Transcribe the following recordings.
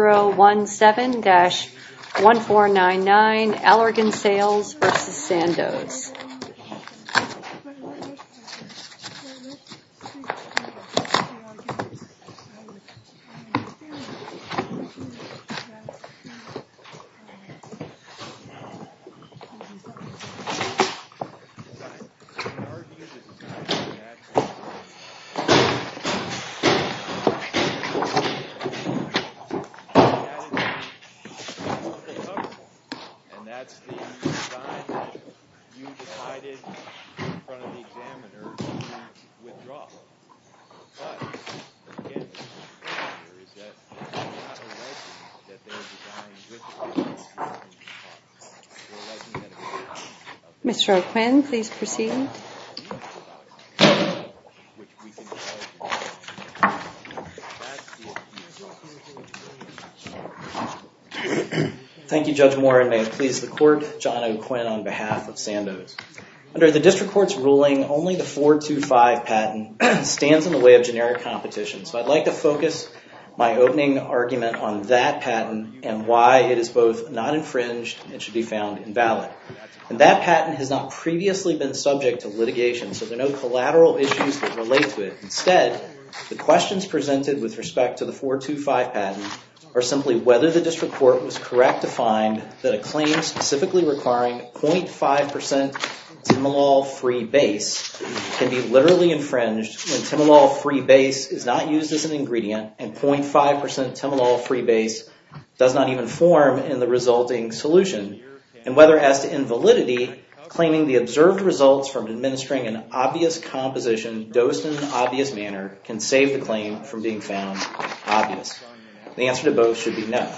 017-1499 Allergan Sales v. Sandoz. Mr. O'Quinn, please proceed. Thank you, Judge Warren. May it please the court, John O'Quinn on behalf of Sandoz. Under the District Court's ruling, only the 425 patent stands in the way of generic competition. So I'd like to focus my opening argument on that patent and why it is both not infringed and should be found invalid. And that patent has not previously been subject to litigation, so there are no collateral issues that relate to it. Instead, the questions presented with respect to the 425 patent are simply whether the District Court was correct to find that a claim specifically requiring 0.5% Timolol-free base can be literally infringed when Timolol-free base is not used as an ingredient and 0.5% Timolol-free base does not even form in the resulting solution. And whether as to invalidity, claiming the observed results from administering an obvious composition dosed in an obvious manner can save the claim from being found obvious. The answer to both should be no.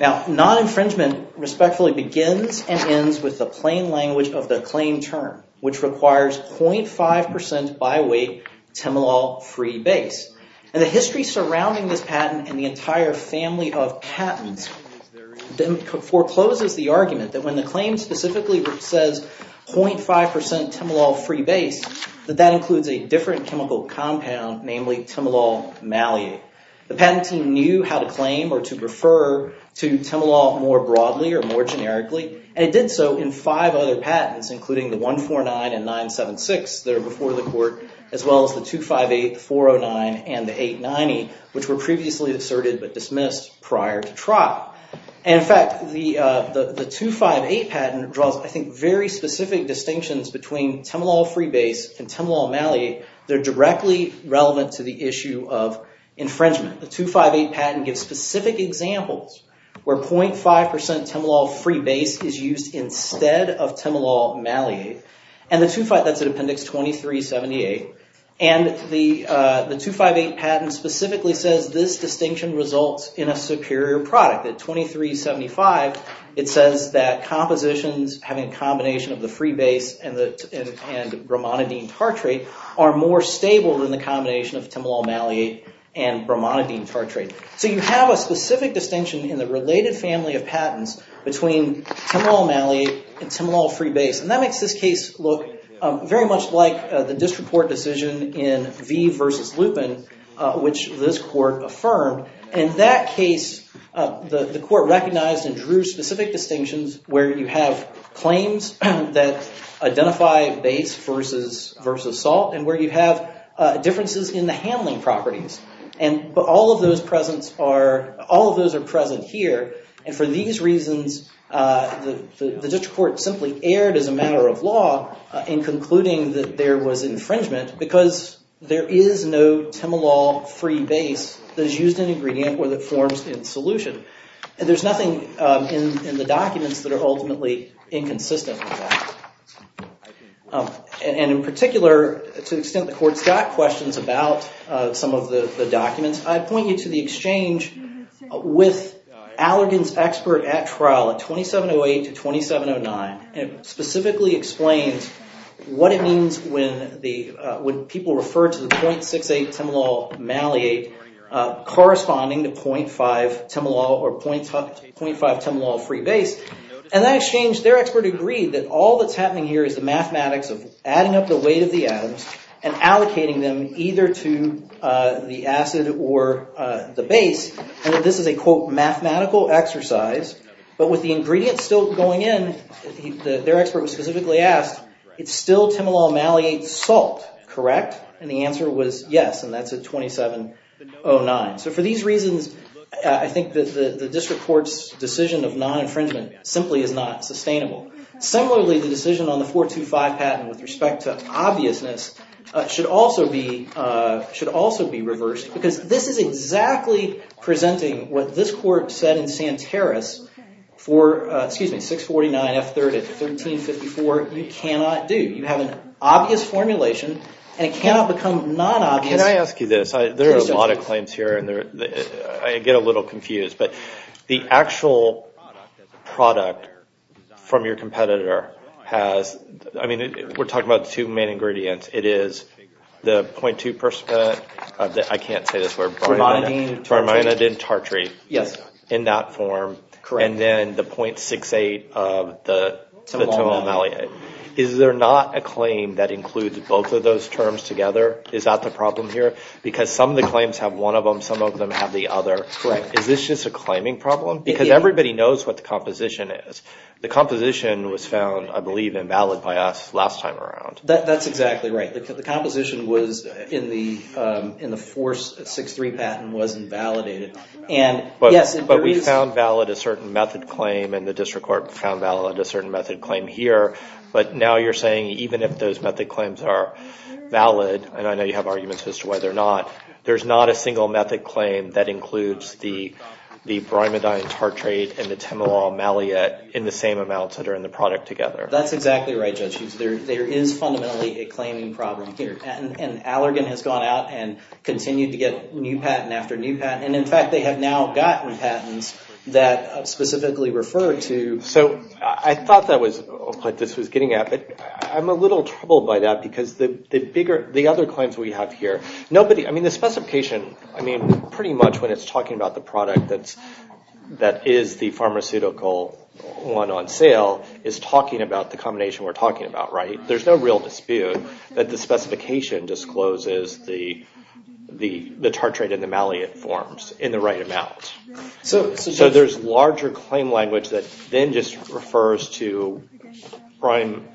Now, non-infringement respectfully begins and ends with the plain language of the claim term, which requires 0.5% by weight Timolol-free base. And the history surrounding this patent and the entire family of patents forecloses the argument that when the claim specifically says 0.5% Timolol-free base, that that includes a different chemical compound, namely Timolol malate. The patent team knew how to claim or to refer to Timolol more broadly or more generically, and it did so in five other patents, including the 149 and 976 that are before the court, as well as the 258, 409, and the 890, which were previously asserted but dismissed prior to trial. And in fact, the 258 patent draws, I think, very specific distinctions between Timolol-free base and Timolol malate. They're directly relevant to the issue of infringement. The 258 patent gives specific examples where 0.5% Timolol-free base is used instead of Timolol malate. And the 258, that's at Appendix 2378, and the 258 patent specifically says this distinction results in a superior product. At 2375, it says that compositions having a combination of the free base and bromonidine tartrate are more stable than the combination of Timolol malate and bromonidine tartrate. So you have a specific distinction in the related family of patents between Timolol malate and Timolol-free base. And that makes this case look very much like the disreport decision in V v. Lupin, which this court affirmed. In that case, the court recognized and drew specific distinctions where you have claims that identify base versus salt and where you have differences in the handling properties. But all of those are present here. And for these reasons, the district court simply erred as a matter of law in concluding that there was infringement because there is no Timolol-free base that is used in ingredient or that forms in solution. And there's nothing in the documents that are ultimately inconsistent with that. And in particular, to the extent the court's got questions about some of the documents, I'd point you to the exchange with Allergan's expert at trial at 2708 to 2709. And it specifically explains what it means when people refer to the 0.68 Timolol malate corresponding to 0.5 Timolol or 0.5 Timolol-free base. And that exchange, their expert agreed that all that's happening here is the mathematics of adding up the weight of the atoms and allocating them either to the acid or the base. And that this is a, quote, mathematical exercise. But with the ingredients still going in, their expert was specifically asked, it's still Timolol malate salt, correct? And the answer was yes. And that's at 2709. So for these reasons, I think that the district court's decision of non-infringement simply is not sustainable. Similarly, the decision on the 425 patent with respect to obviousness should also be reversed because this is exactly presenting what this court said in Santaris for, excuse me, 649 F3rd at 1354, you cannot do. You have an obvious formulation, and it cannot become non-obvious. Can I ask you this? There are a lot of claims here, and I get a little confused. But the actual product from your competitor has, I mean, we're talking about two main ingredients. It is the 0.2 percent of the, I can't say this word, bromine, bromine and tartrate. Yes. In that form. Correct. And then the 0.68 of the Timolol malate. Is there not a claim that includes both of those terms together? Is that the problem here? Because some of the claims have one of them, some of them have the other. Correct. Is this just a claiming problem? Because everybody knows what the composition is. The composition was found, I believe, invalid by us last time around. That's exactly right. The composition was, in the force 63 patent, was invalidated. But we found valid a certain method claim, and the district court found valid a certain method claim here. But now you're saying even if those method claims are valid, and I know you have arguments as to whether or not, there's not a single method claim that includes the bromidine tartrate and the Timolol malate in the same amounts that are in the product together. That's exactly right, Judge Hughes. There is fundamentally a claiming problem here. And Allergan has gone out and continued to get new patent after new patent. And, in fact, they have now gotten patents that specifically refer to. So I thought that was what this was getting at, but I'm a little troubled by that because the bigger, the other claims we have here, nobody, I mean, the specification, I mean, pretty much when it's talking about the product that is the pharmaceutical one on sale, is talking about the combination we're talking about, right? There's no real dispute that the specification discloses the tartrate and the malate forms in the right amount. So there's larger claim language that then just refers to, Brian,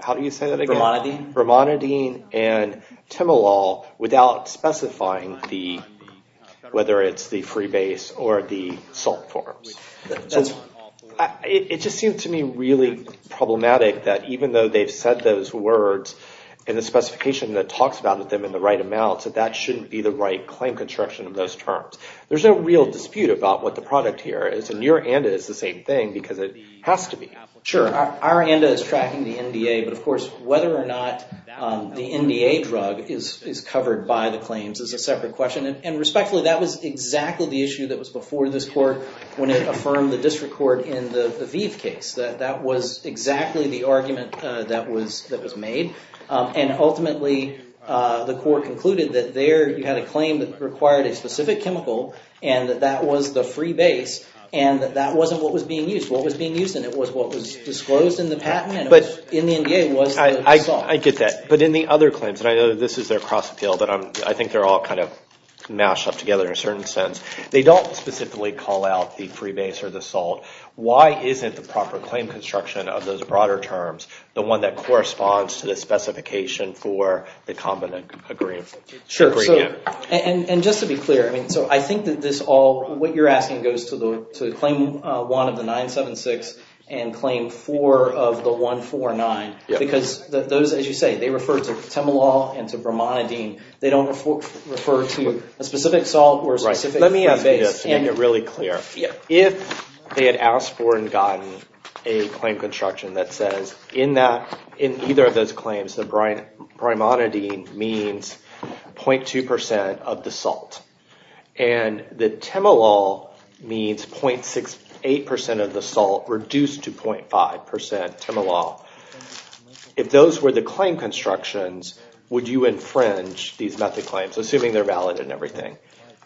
how do you say that again? Bromidine. Bromidine and Timolol without specifying whether it's the free base or the salt forms. It just seems to me really problematic that even though they've said those words in the specification that talks about them in the right amounts, that that shouldn't be the right claim construction of those terms. There's no real dispute about what the product here is. And your ANDA is the same thing because it has to be. Sure. Our ANDA is tracking the NDA, but, of course, whether or not the NDA drug is covered by the claims is a separate question. And respectfully, that was exactly the issue that was before this court when it affirmed the district court in the Aviv case. That was exactly the argument that was made. And ultimately, the court concluded that there you had a claim that required a specific chemical and that that was the free base and that that wasn't what was being used. What was being used in it was what was disclosed in the patent and in the NDA was the salt. I get that. But in the other claims, and I know this is their cross appeal, but I think they're all kind of mashed up together in a certain sense. They don't specifically call out the free base or the salt. Why isn't the proper claim construction of those broader terms the one that corresponds to the specification for the common agreement? And just to be clear, I mean, so I think that this all, what you're asking goes to the claim one of the 976 and claim four of the 149 because those, as you say, they refer to Temelol and to Brimonidine. They don't refer to a specific salt or a specific free base. Let me ask you this to make it really clear. If they had asked for and gotten a claim construction that says in either of those claims that Brimonidine means 0.2 percent of the salt and that Temelol means 0.68 percent of the salt reduced to 0.5 percent Temelol, if those were the claim constructions, would you infringe these method claims assuming they're valid and everything?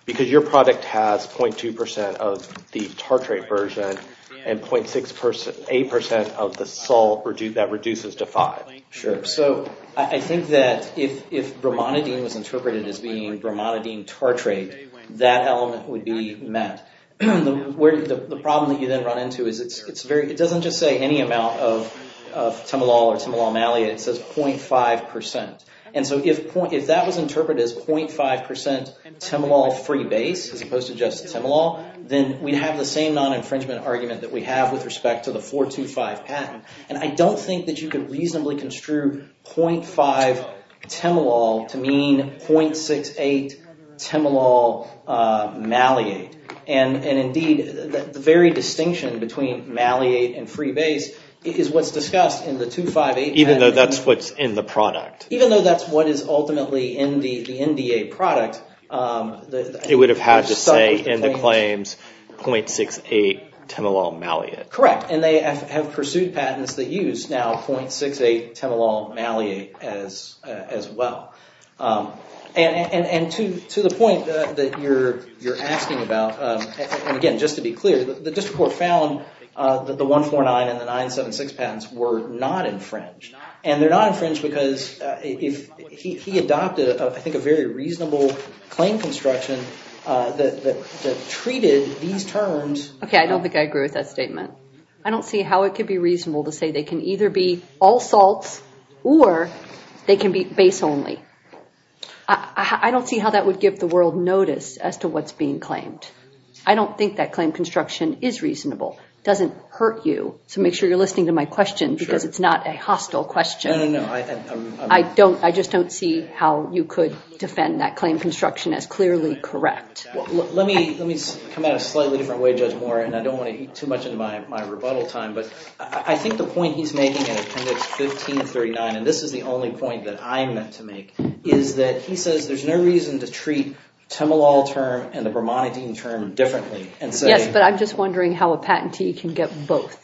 Because your product has 0.2 percent of the tartrate version and 0.68 percent of the salt that reduces to five. Sure. So I think that if Brimonidine was interpreted as being Brimonidine tartrate, that element would be met. The problem that you then run into is it doesn't just say any amount of Temelol or Temelol malleate. It says 0.5 percent. And so if that was interpreted as 0.5 percent Temelol free base as opposed to just Temelol, then we'd have the same non-infringement argument that we have with respect to the 425 patent. And I don't think that you can reasonably construe 0.5 Temelol to mean 0.68 Temelol malleate. And indeed, the very distinction between malleate and free base is what's discussed in the 258. Even though that's what's in the product. Even though that's what is ultimately in the NDA product. It would have had to say in the claims 0.68 Temelol malleate. Correct. And they have pursued patents that use now 0.68 Temelol malleate as well. And to the point that you're asking about, and again, just to be clear, the district court found that the 149 and the 976 patents were not infringed. And they're not infringed because he adopted, I think, a very reasonable claim construction that treated these terms. Okay, I don't think I agree with that statement. I don't see how it could be reasonable to say they can either be all salts or they can be base only. I don't see how that would give the world notice as to what's being claimed. I don't think that claim construction is reasonable. It doesn't hurt you, so make sure you're listening to my question because it's not a hostile question. No, no, no. I just don't see how you could defend that claim construction as clearly correct. Let me come at it a slightly different way, Judge Moore, and I don't want to eat too much into my rebuttal time. But I think the point he's making, and it commits 1539, and this is the only point that I'm meant to make, is that he says there's no reason to treat Temelol term and the bromonidine term differently. Yes, but I'm just wondering how a patentee can get both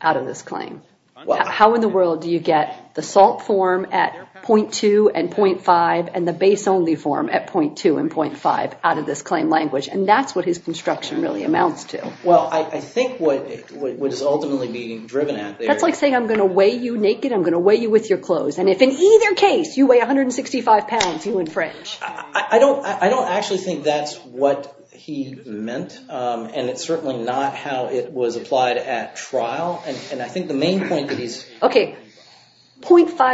out of this claim. How in the world do you get the salt form at 0.2 and 0.5 and the base only form at 0.2 and 0.5 out of this claim language? And that's what his construction really amounts to. Well, I think what is ultimately being driven at there— That's like saying I'm going to weigh you naked, I'm going to weigh you with your clothes, and if in either case you weigh 165 pounds, you infringe. I don't actually think that's what he meant, and it's certainly not how it was applied at trial. Okay, 0.5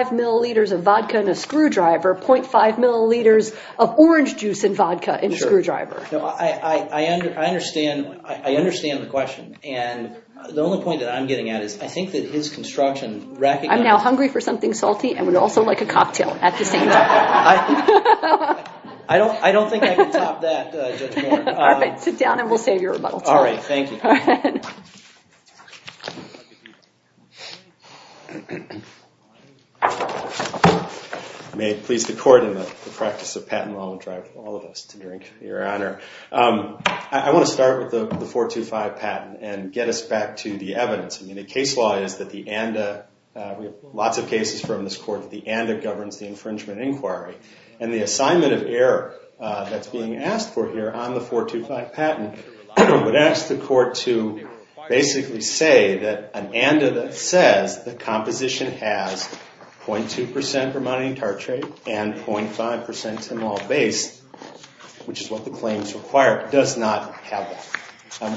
milliliters of vodka in a screwdriver, 0.5 milliliters of orange juice in vodka in a screwdriver. I understand the question, and the only point that I'm getting at is I think that his construction— I'm now hungry for something salty and would also like a cocktail at the same time. I don't think I can top that, Judge Moore. All right, sit down and we'll save your rebuttal time. All right, thank you. Go ahead. May it please the court and the practice of patent law will drive all of us to drink to your honor. I want to start with the 425 patent and get us back to the evidence. I mean, the case law is that the ANDA—we have lots of cases from this court— that the ANDA governs the infringement inquiry, and the assignment of error that's being asked for here on the 425 patent would ask the court to basically say that an ANDA that says the composition has 0.2% Vermontian tartrate and 0.5% Tymol base, which is what the claims require, does not have that.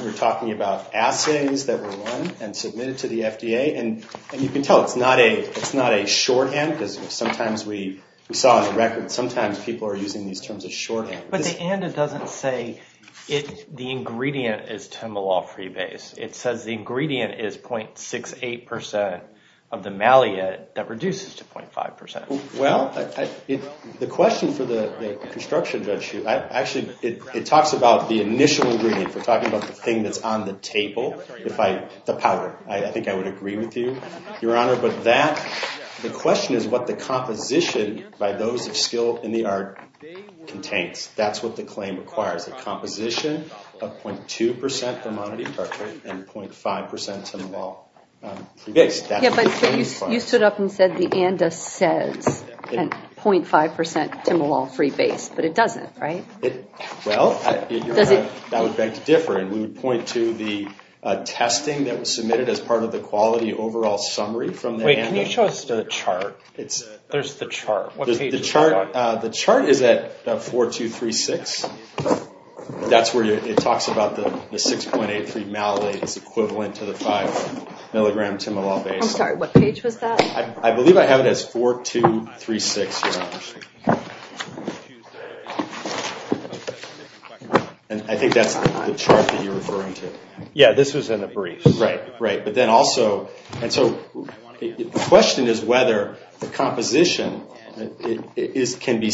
We're talking about assays that were run and submitted to the FDA, and you can tell it's not a shorthand because sometimes we saw on the record sometimes people are using these terms as shorthand. But the ANDA doesn't say the ingredient is Tymolol-free base. It says the ingredient is 0.68% of the malleate that reduces to 0.5%. Well, the question for the construction judge—actually, it talks about the initial ingredient. We're talking about the thing that's on the table, the powder. I think I would agree with you, Your Honor, but that— what the composition by those of skill in the art contains, that's what the claim requires, a composition of 0.2% Vermontian tartrate and 0.5% Tymolol-free base. Yeah, but you stood up and said the ANDA says 0.5% Tymolol-free base, but it doesn't, right? Well, Your Honor, that would beg to differ, and we would point to the testing that was submitted as part of the quality overall summary from the ANDA. Wait, can you show us the chart? There's the chart. The chart is at 4, 2, 3, 6. That's where it talks about the 6.83 malleate is equivalent to the 5-milligram Tymolol base. I'm sorry, what page was that? I believe I have it as 4, 2, 3, 6, Your Honor. And I think that's the chart that you're referring to. Yeah, this was in the brief. Right, right, but then also, and so the question is whether the composition can be,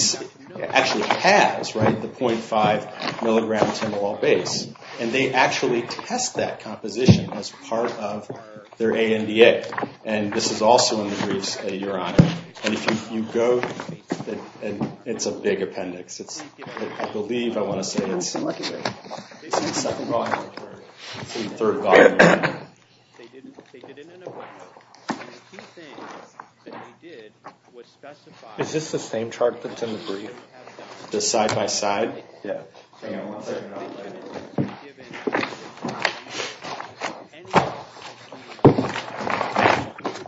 actually has, right, the 0.5 milligram Tymolol base, and they actually test that composition as part of their ANDA, and this is also in the briefs, Your Honor. And if you go, it's a big appendix. I believe I want to say it's the second volume or the third volume. Is this the same chart that's in the brief? The side-by-side? Yeah.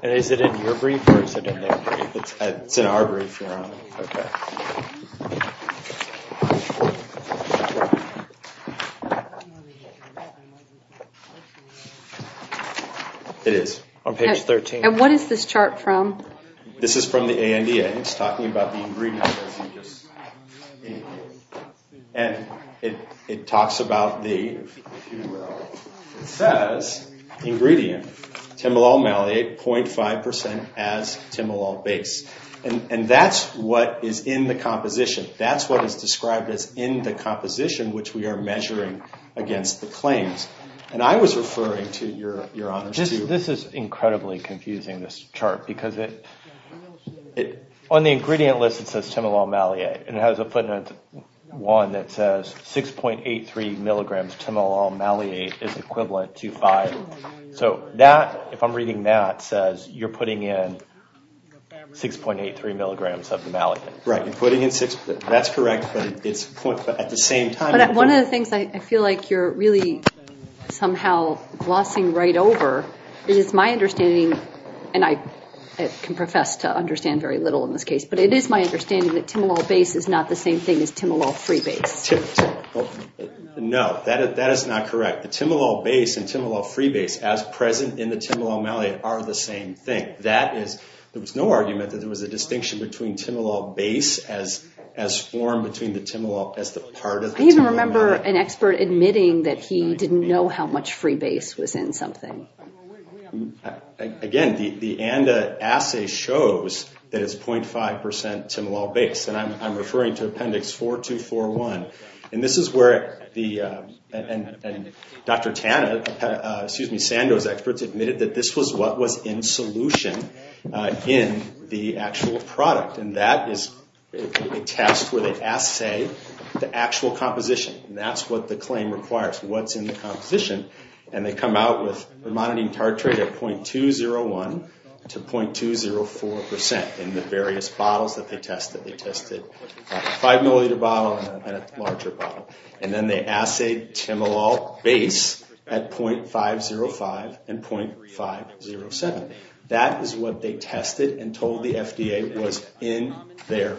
And is it in your brief or is it in their brief? It's in our brief, Your Honor. Okay. It is, on page 13. And what is this chart from? This is from the ANDA. It's talking about the ingredients. And it talks about the, it says, ingredient, Tymolol malate, 0.5% as Tymolol base. And that's what is in the composition. That's what is described as in the composition, which we are measuring against the claims. And I was referring to, Your Honors, to This is incredibly confusing, this chart, because it, on the ingredient list it says Tymolol malate, and it has a footnote 1 that says 6.83 milligrams Tymolol malate is equivalent to 5. So that, if I'm reading that, says you're putting in 6.83 milligrams of the malate. Right, you're putting in 6. That's correct, but it's, at the same time One of the things I feel like you're really somehow glossing right over is my understanding, and I can profess to understand very little in this case, but it is my understanding that Tymolol base is not the same thing as Tymolol free base. No, that is not correct. The Tymolol base and Tymolol free base, as present in the Tymolol malate, are the same thing. That is, there was no argument that there was a distinction between Tymolol base as formed between the Tymolol, as the part of the Tymolol malate. I even remember an expert admitting that he didn't know how much free base was in something. Again, the ANDA assay shows that it's 0.5% Tymolol base. And I'm referring to Appendix 4241. And this is where Dr. Tanna, excuse me, Sandoz experts admitted that this was what was in solution in the actual product. And that is a test where they assay the actual composition. And that's what the claim requires, what's in the composition. And they come out with, they're monitoring tartrate at 0.201 to 0.204% in the various bottles that they tested. A five milliliter bottle and a larger bottle. And then they assay Tymolol base at 0.505 and 0.507. That is what they tested and told the FDA was in their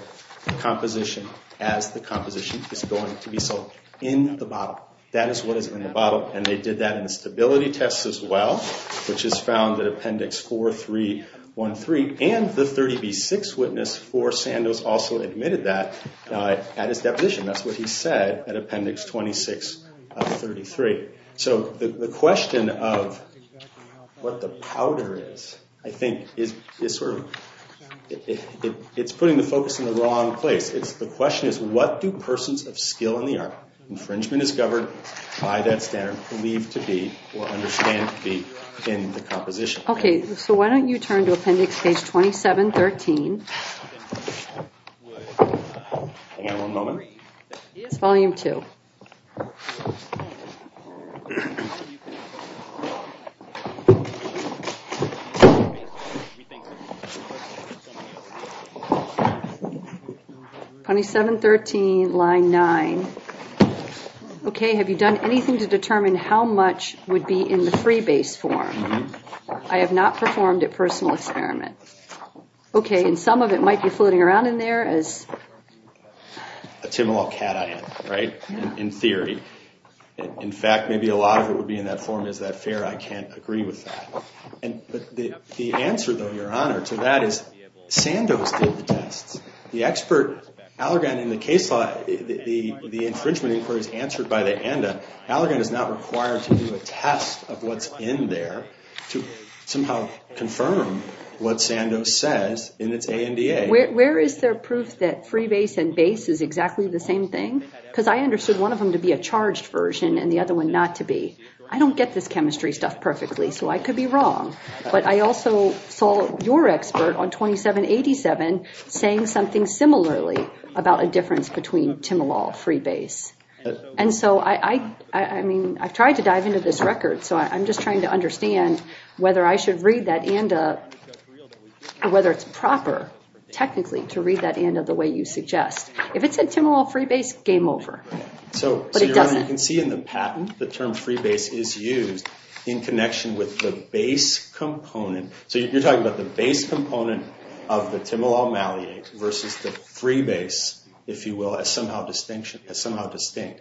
composition as the composition is going to be sold, in the bottle. That is what is in the bottle. And they did that in the stability test as well, which is found in Appendix 4313. And the 30B6 witness for Sandoz also admitted that at his deposition. That's what he said at Appendix 26 of 33. So the question of what the powder is, I think, is sort of, it's putting the focus in the wrong place. The question is what do persons of skill in the art, infringement is governed by that standard, believe to be or understand to be in the composition. Okay. So why don't you turn to Appendix Page 2713. Hang on one moment. It's Volume 2. 2713, Line 9. Okay. Have you done anything to determine how much would be in the free base form? I have not performed a personal experiment. Okay. And some of it might be floating around in there as a Tymolol cation, right, in theory. In fact, maybe a lot of it would be in that form. Is that fair? I can't agree with that. But the answer, though, Your Honor, to that is Sandoz did the tests. The expert, Allergan, in the case law, the infringement inquiry is answered by the ANDA. Allergan is not required to do a test of what's in there to somehow confirm what Sandoz says in its ANDA. Where is there proof that free base and base is exactly the same thing? Because I understood one of them to be a charged version and the other one not to be. I don't get this chemistry stuff perfectly, so I could be wrong. But I also saw your expert on 2787 saying something similarly about a difference between Tymolol free base. And so, I mean, I've tried to dive into this record, so I'm just trying to understand whether I should read that ANDA or whether it's proper technically to read that ANDA the way you suggest. If it said Tymolol free base, game over. But it doesn't. So, Your Honor, you can see in the patent the term free base is used in So, you're talking about the base component of the Tymolol maliate versus the free base, if you will, as somehow distinct.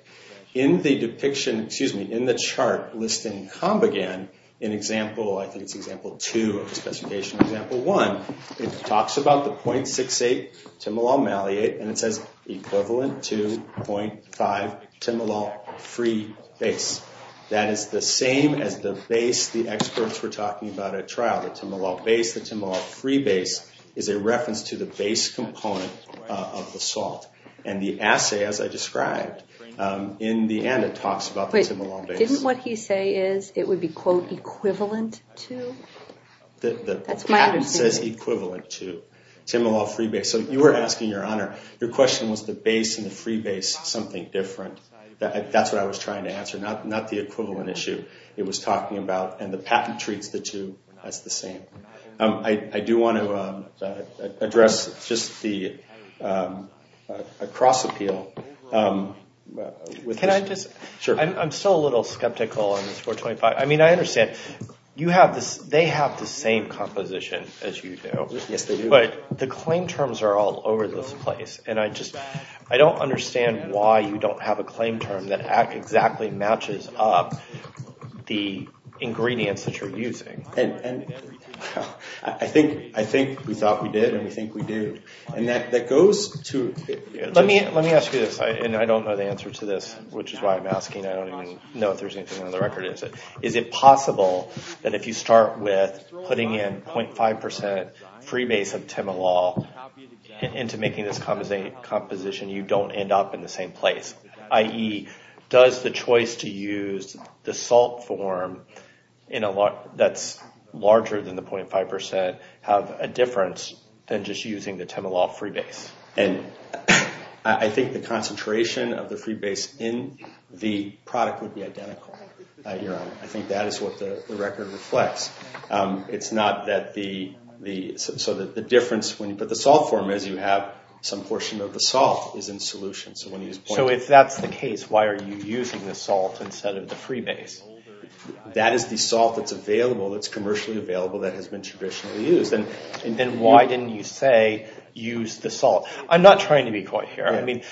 In the depiction, excuse me, in the chart listing Combigan, in example, I think it's example two of the specification, example one, it talks about the .68 Tymolol maliate and it says equivalent to .5 Tymolol free base. That is the same as the base the experts were talking about at trial, the Tymolol base, the Tymolol free base, is a reference to the base component of the salt. And the assay, as I described, in the ANDA, talks about the Tymolol base. Wait, didn't what he say is it would be, quote, equivalent to? That's my understanding. The patent says equivalent to Tymolol free base. So, you were asking, Your Honor, your question was the base and the free base something different. That's what I was trying to answer. Not the equivalent issue it was talking about. And the patent treats the two as the same. I do want to address just the cross appeal. Can I just? Sure. I'm still a little skeptical on this 425. I mean, I understand. They have the same composition as you do. Yes, they do. But the claim terms are all over this place. I don't understand why you don't have a claim term that exactly matches up the ingredients that you're using. I think we thought we did and we think we do. And that goes to. Let me ask you this. And I don't know the answer to this, which is why I'm asking. I don't even know if there's anything on the record. Is it possible that if you start with putting in .5% free base of Tymolol into making this composition, you don't end up in the same place? I.e., does the choice to use the salt form that's larger than the .5% have a difference than just using the Tymolol free base? And I think the concentration of the free base in the product would be identical. I think that is what the record reflects. It's not that the difference when you put the salt form as you have some portion of the salt is in solution. So if that's the case, why are you using the salt instead of the free base? That is the salt that's available, that's commercially available, that has been traditionally used. Then why didn't you say use the salt? I'm not trying to be coherent.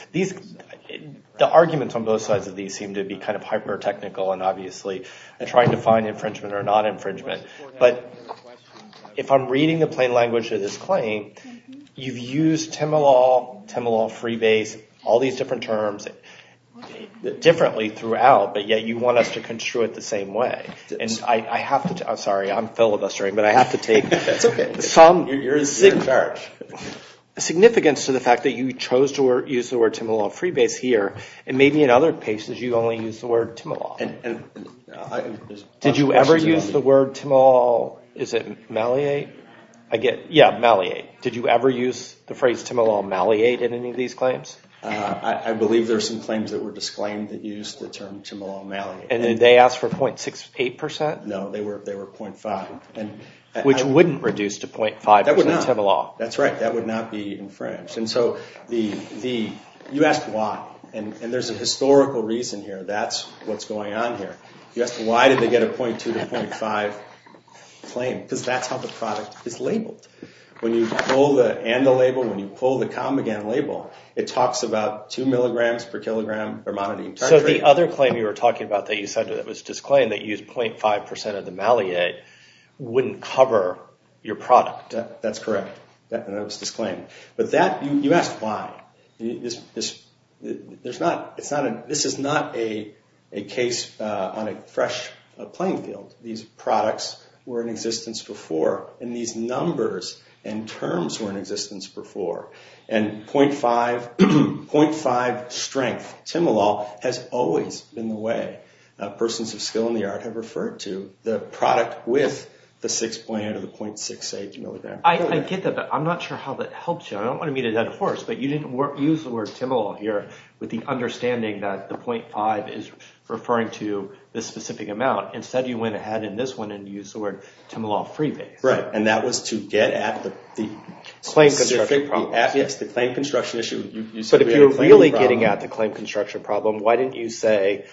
The arguments on both sides of these seem to be kind of hyper-technical and obviously trying to find infringement or non-infringement. But if I'm reading the plain language of this claim, you've used Tymolol, Tymolol free base, all these different terms differently throughout, but yet you want us to construe it the same way. I'm sorry, I'm filibustering, but I have to take some significance to the fact that you chose to use the word Tymolol free base here, and maybe in other cases you only used the word Tymolol. Did you ever use the word Tymolol, is it Maliate? Yeah, Maliate. Did you ever use the phrase Tymolol Maliate in any of these claims? I believe there are some claims that were disclaimed that used the term Tymolol Maliate. And did they ask for 0.68%? No, they were 0.5. Which wouldn't reduce to 0.5% Tymolol. That's right, that would not be infringed. You asked why, and there's a historical reason here. That's what's going on here. You asked why did they get a 0.2 to 0.5 claim, because that's how the product is labeled. When you pull the and the label, when you pull the com again label, it talks about 2 milligrams per kilogram, or monodium tartrate. So the other claim you were talking about that you said that was disclaimed, that you used 0.5% of the Maliate, wouldn't cover your product. That's correct, that was disclaimed. But that, you asked why. This is not a case on a fresh playing field. These products were in existence before, and these numbers and terms were in existence before. And 0.5 strength, Tymolol, has always been the way persons of skill in the art have referred to the product with the 6.8 or the 0.68. I get that, but I'm not sure how that helps you. I don't want to meet a dead horse, but you didn't use the word Tymolol here with the understanding that the 0.5 is referring to this specific amount. Instead, you went ahead in this one and used the word Tymolol Freebase. Right, and that was to get at the claim construction issue. But if you're really getting at the claim construction problem, why didn't you say,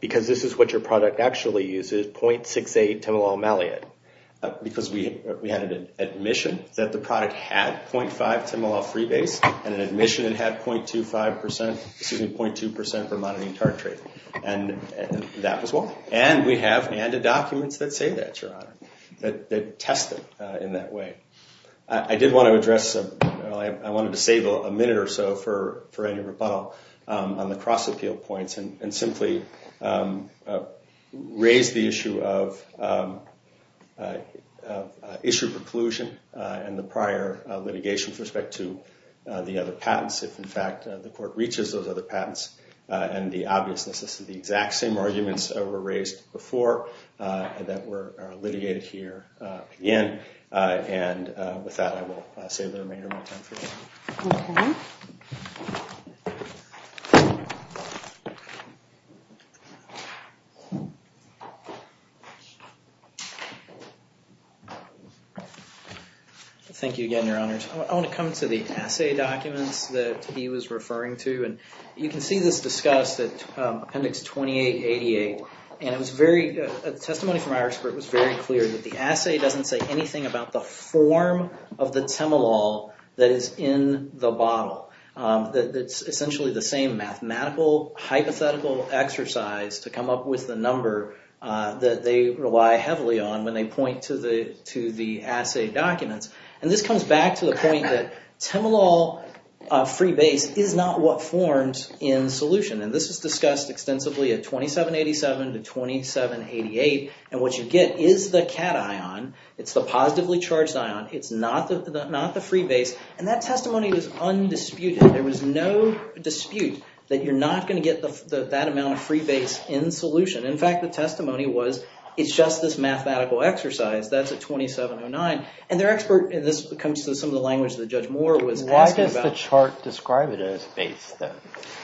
because this is what your product actually uses, 0.68 Tymolol Maliate? Because we had an admission that the product had 0.5 Tymolol Freebase and an admission it had 0.25%—excuse me, 0.2% Vermodening tartrate. And that was why. And we have added documents that say that, Your Honor, that test it in that way. I did want to address—I wanted to save a minute or so for any rebuttal on the cross-appeal points and simply raise the issue of issue preclusion and the prior litigation with respect to the other patents. If, in fact, the court reaches those other patents and the obviousness, this is the exact same arguments that were raised before that were litigated here again. And with that, I will save the remainder of my time. Okay. Thank you again, Your Honors. I want to come to the assay documents that he was referring to. And you can see this discussed at Appendix 2888. And it was very—a testimony from our expert was very clear that the assay doesn't say anything about the form of the Tymolol that is in the bottle. It's essentially the same mathematical, hypothetical exercise to come up with the number that they rely heavily on when they point to the assay documents. And this comes back to the point that Tymolol free base is not what forms in solution. And this is discussed extensively at 2787 to 2788. And what you get is the cation. It's the positively charged ion. It's not the free base. And that testimony was undisputed. There was no dispute that you're not going to get that amount of free base in solution. In fact, the testimony was it's just this mathematical exercise. That's at 2709. And their expert—and this comes to some of the language that Judge Moore was asking about. Why does the chart describe it as base then?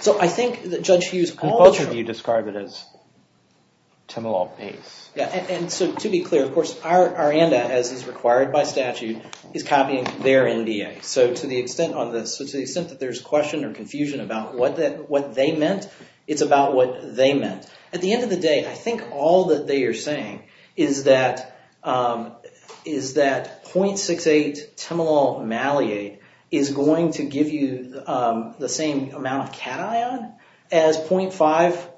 So I think that Judge Hughes— Both of you describe it as Tymolol base. And so to be clear, of course, our ANDA, as is required by statute, is copying their NDA. So to the extent that there's question or confusion about what they meant, it's about what they meant. At the end of the day, I think all that they are saying is that 0.68 Tymolol maliate is going to give you the same amount of cation as 0.5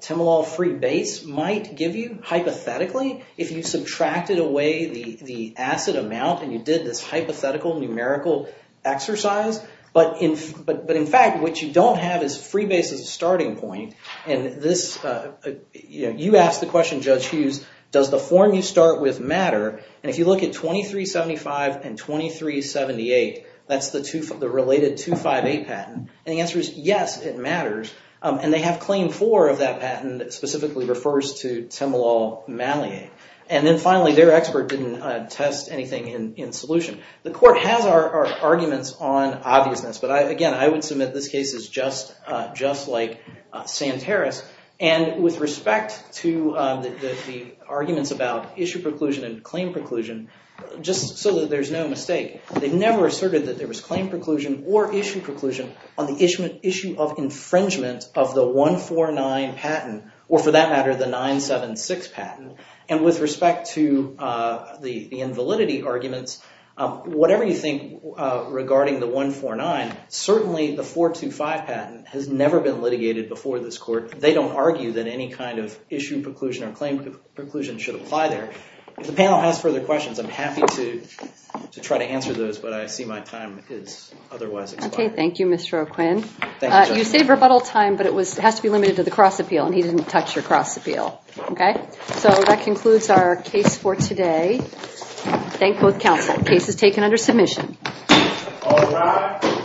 Tymolol free base might give you hypothetically if you subtracted away the acid amount and you did this hypothetical numerical exercise. But in fact, what you don't have is free base as a starting point. And this—you asked the question, Judge Hughes, does the form you start with matter? And if you look at 2375 and 2378, that's the related 258 patent. And the answer is yes, it matters. And they have claim four of that patent that specifically refers to Tymolol maliate. And then finally, their expert didn't test anything in solution. The court has our arguments on obviousness. But again, I would submit this case is just like Santaris. And with respect to the arguments about issue preclusion and claim preclusion, just so that there's no mistake, they never asserted that there was claim preclusion or issue preclusion on the issue of infringement of the 149 patent, or for that matter, the 976 patent. And with respect to the invalidity arguments, whatever you think regarding the 149, certainly the 425 patent has never been litigated before this court. They don't argue that any kind of issue preclusion or claim preclusion should apply there. If the panel has further questions, I'm happy to try to answer those, but I see my time is otherwise expired. Okay, thank you, Mr. O'Quinn. You saved rebuttal time, but it has to be limited to the cross appeal, and he didn't touch your cross appeal. So that concludes our case for today. Thank both counsel. Case is taken under submission. All rise.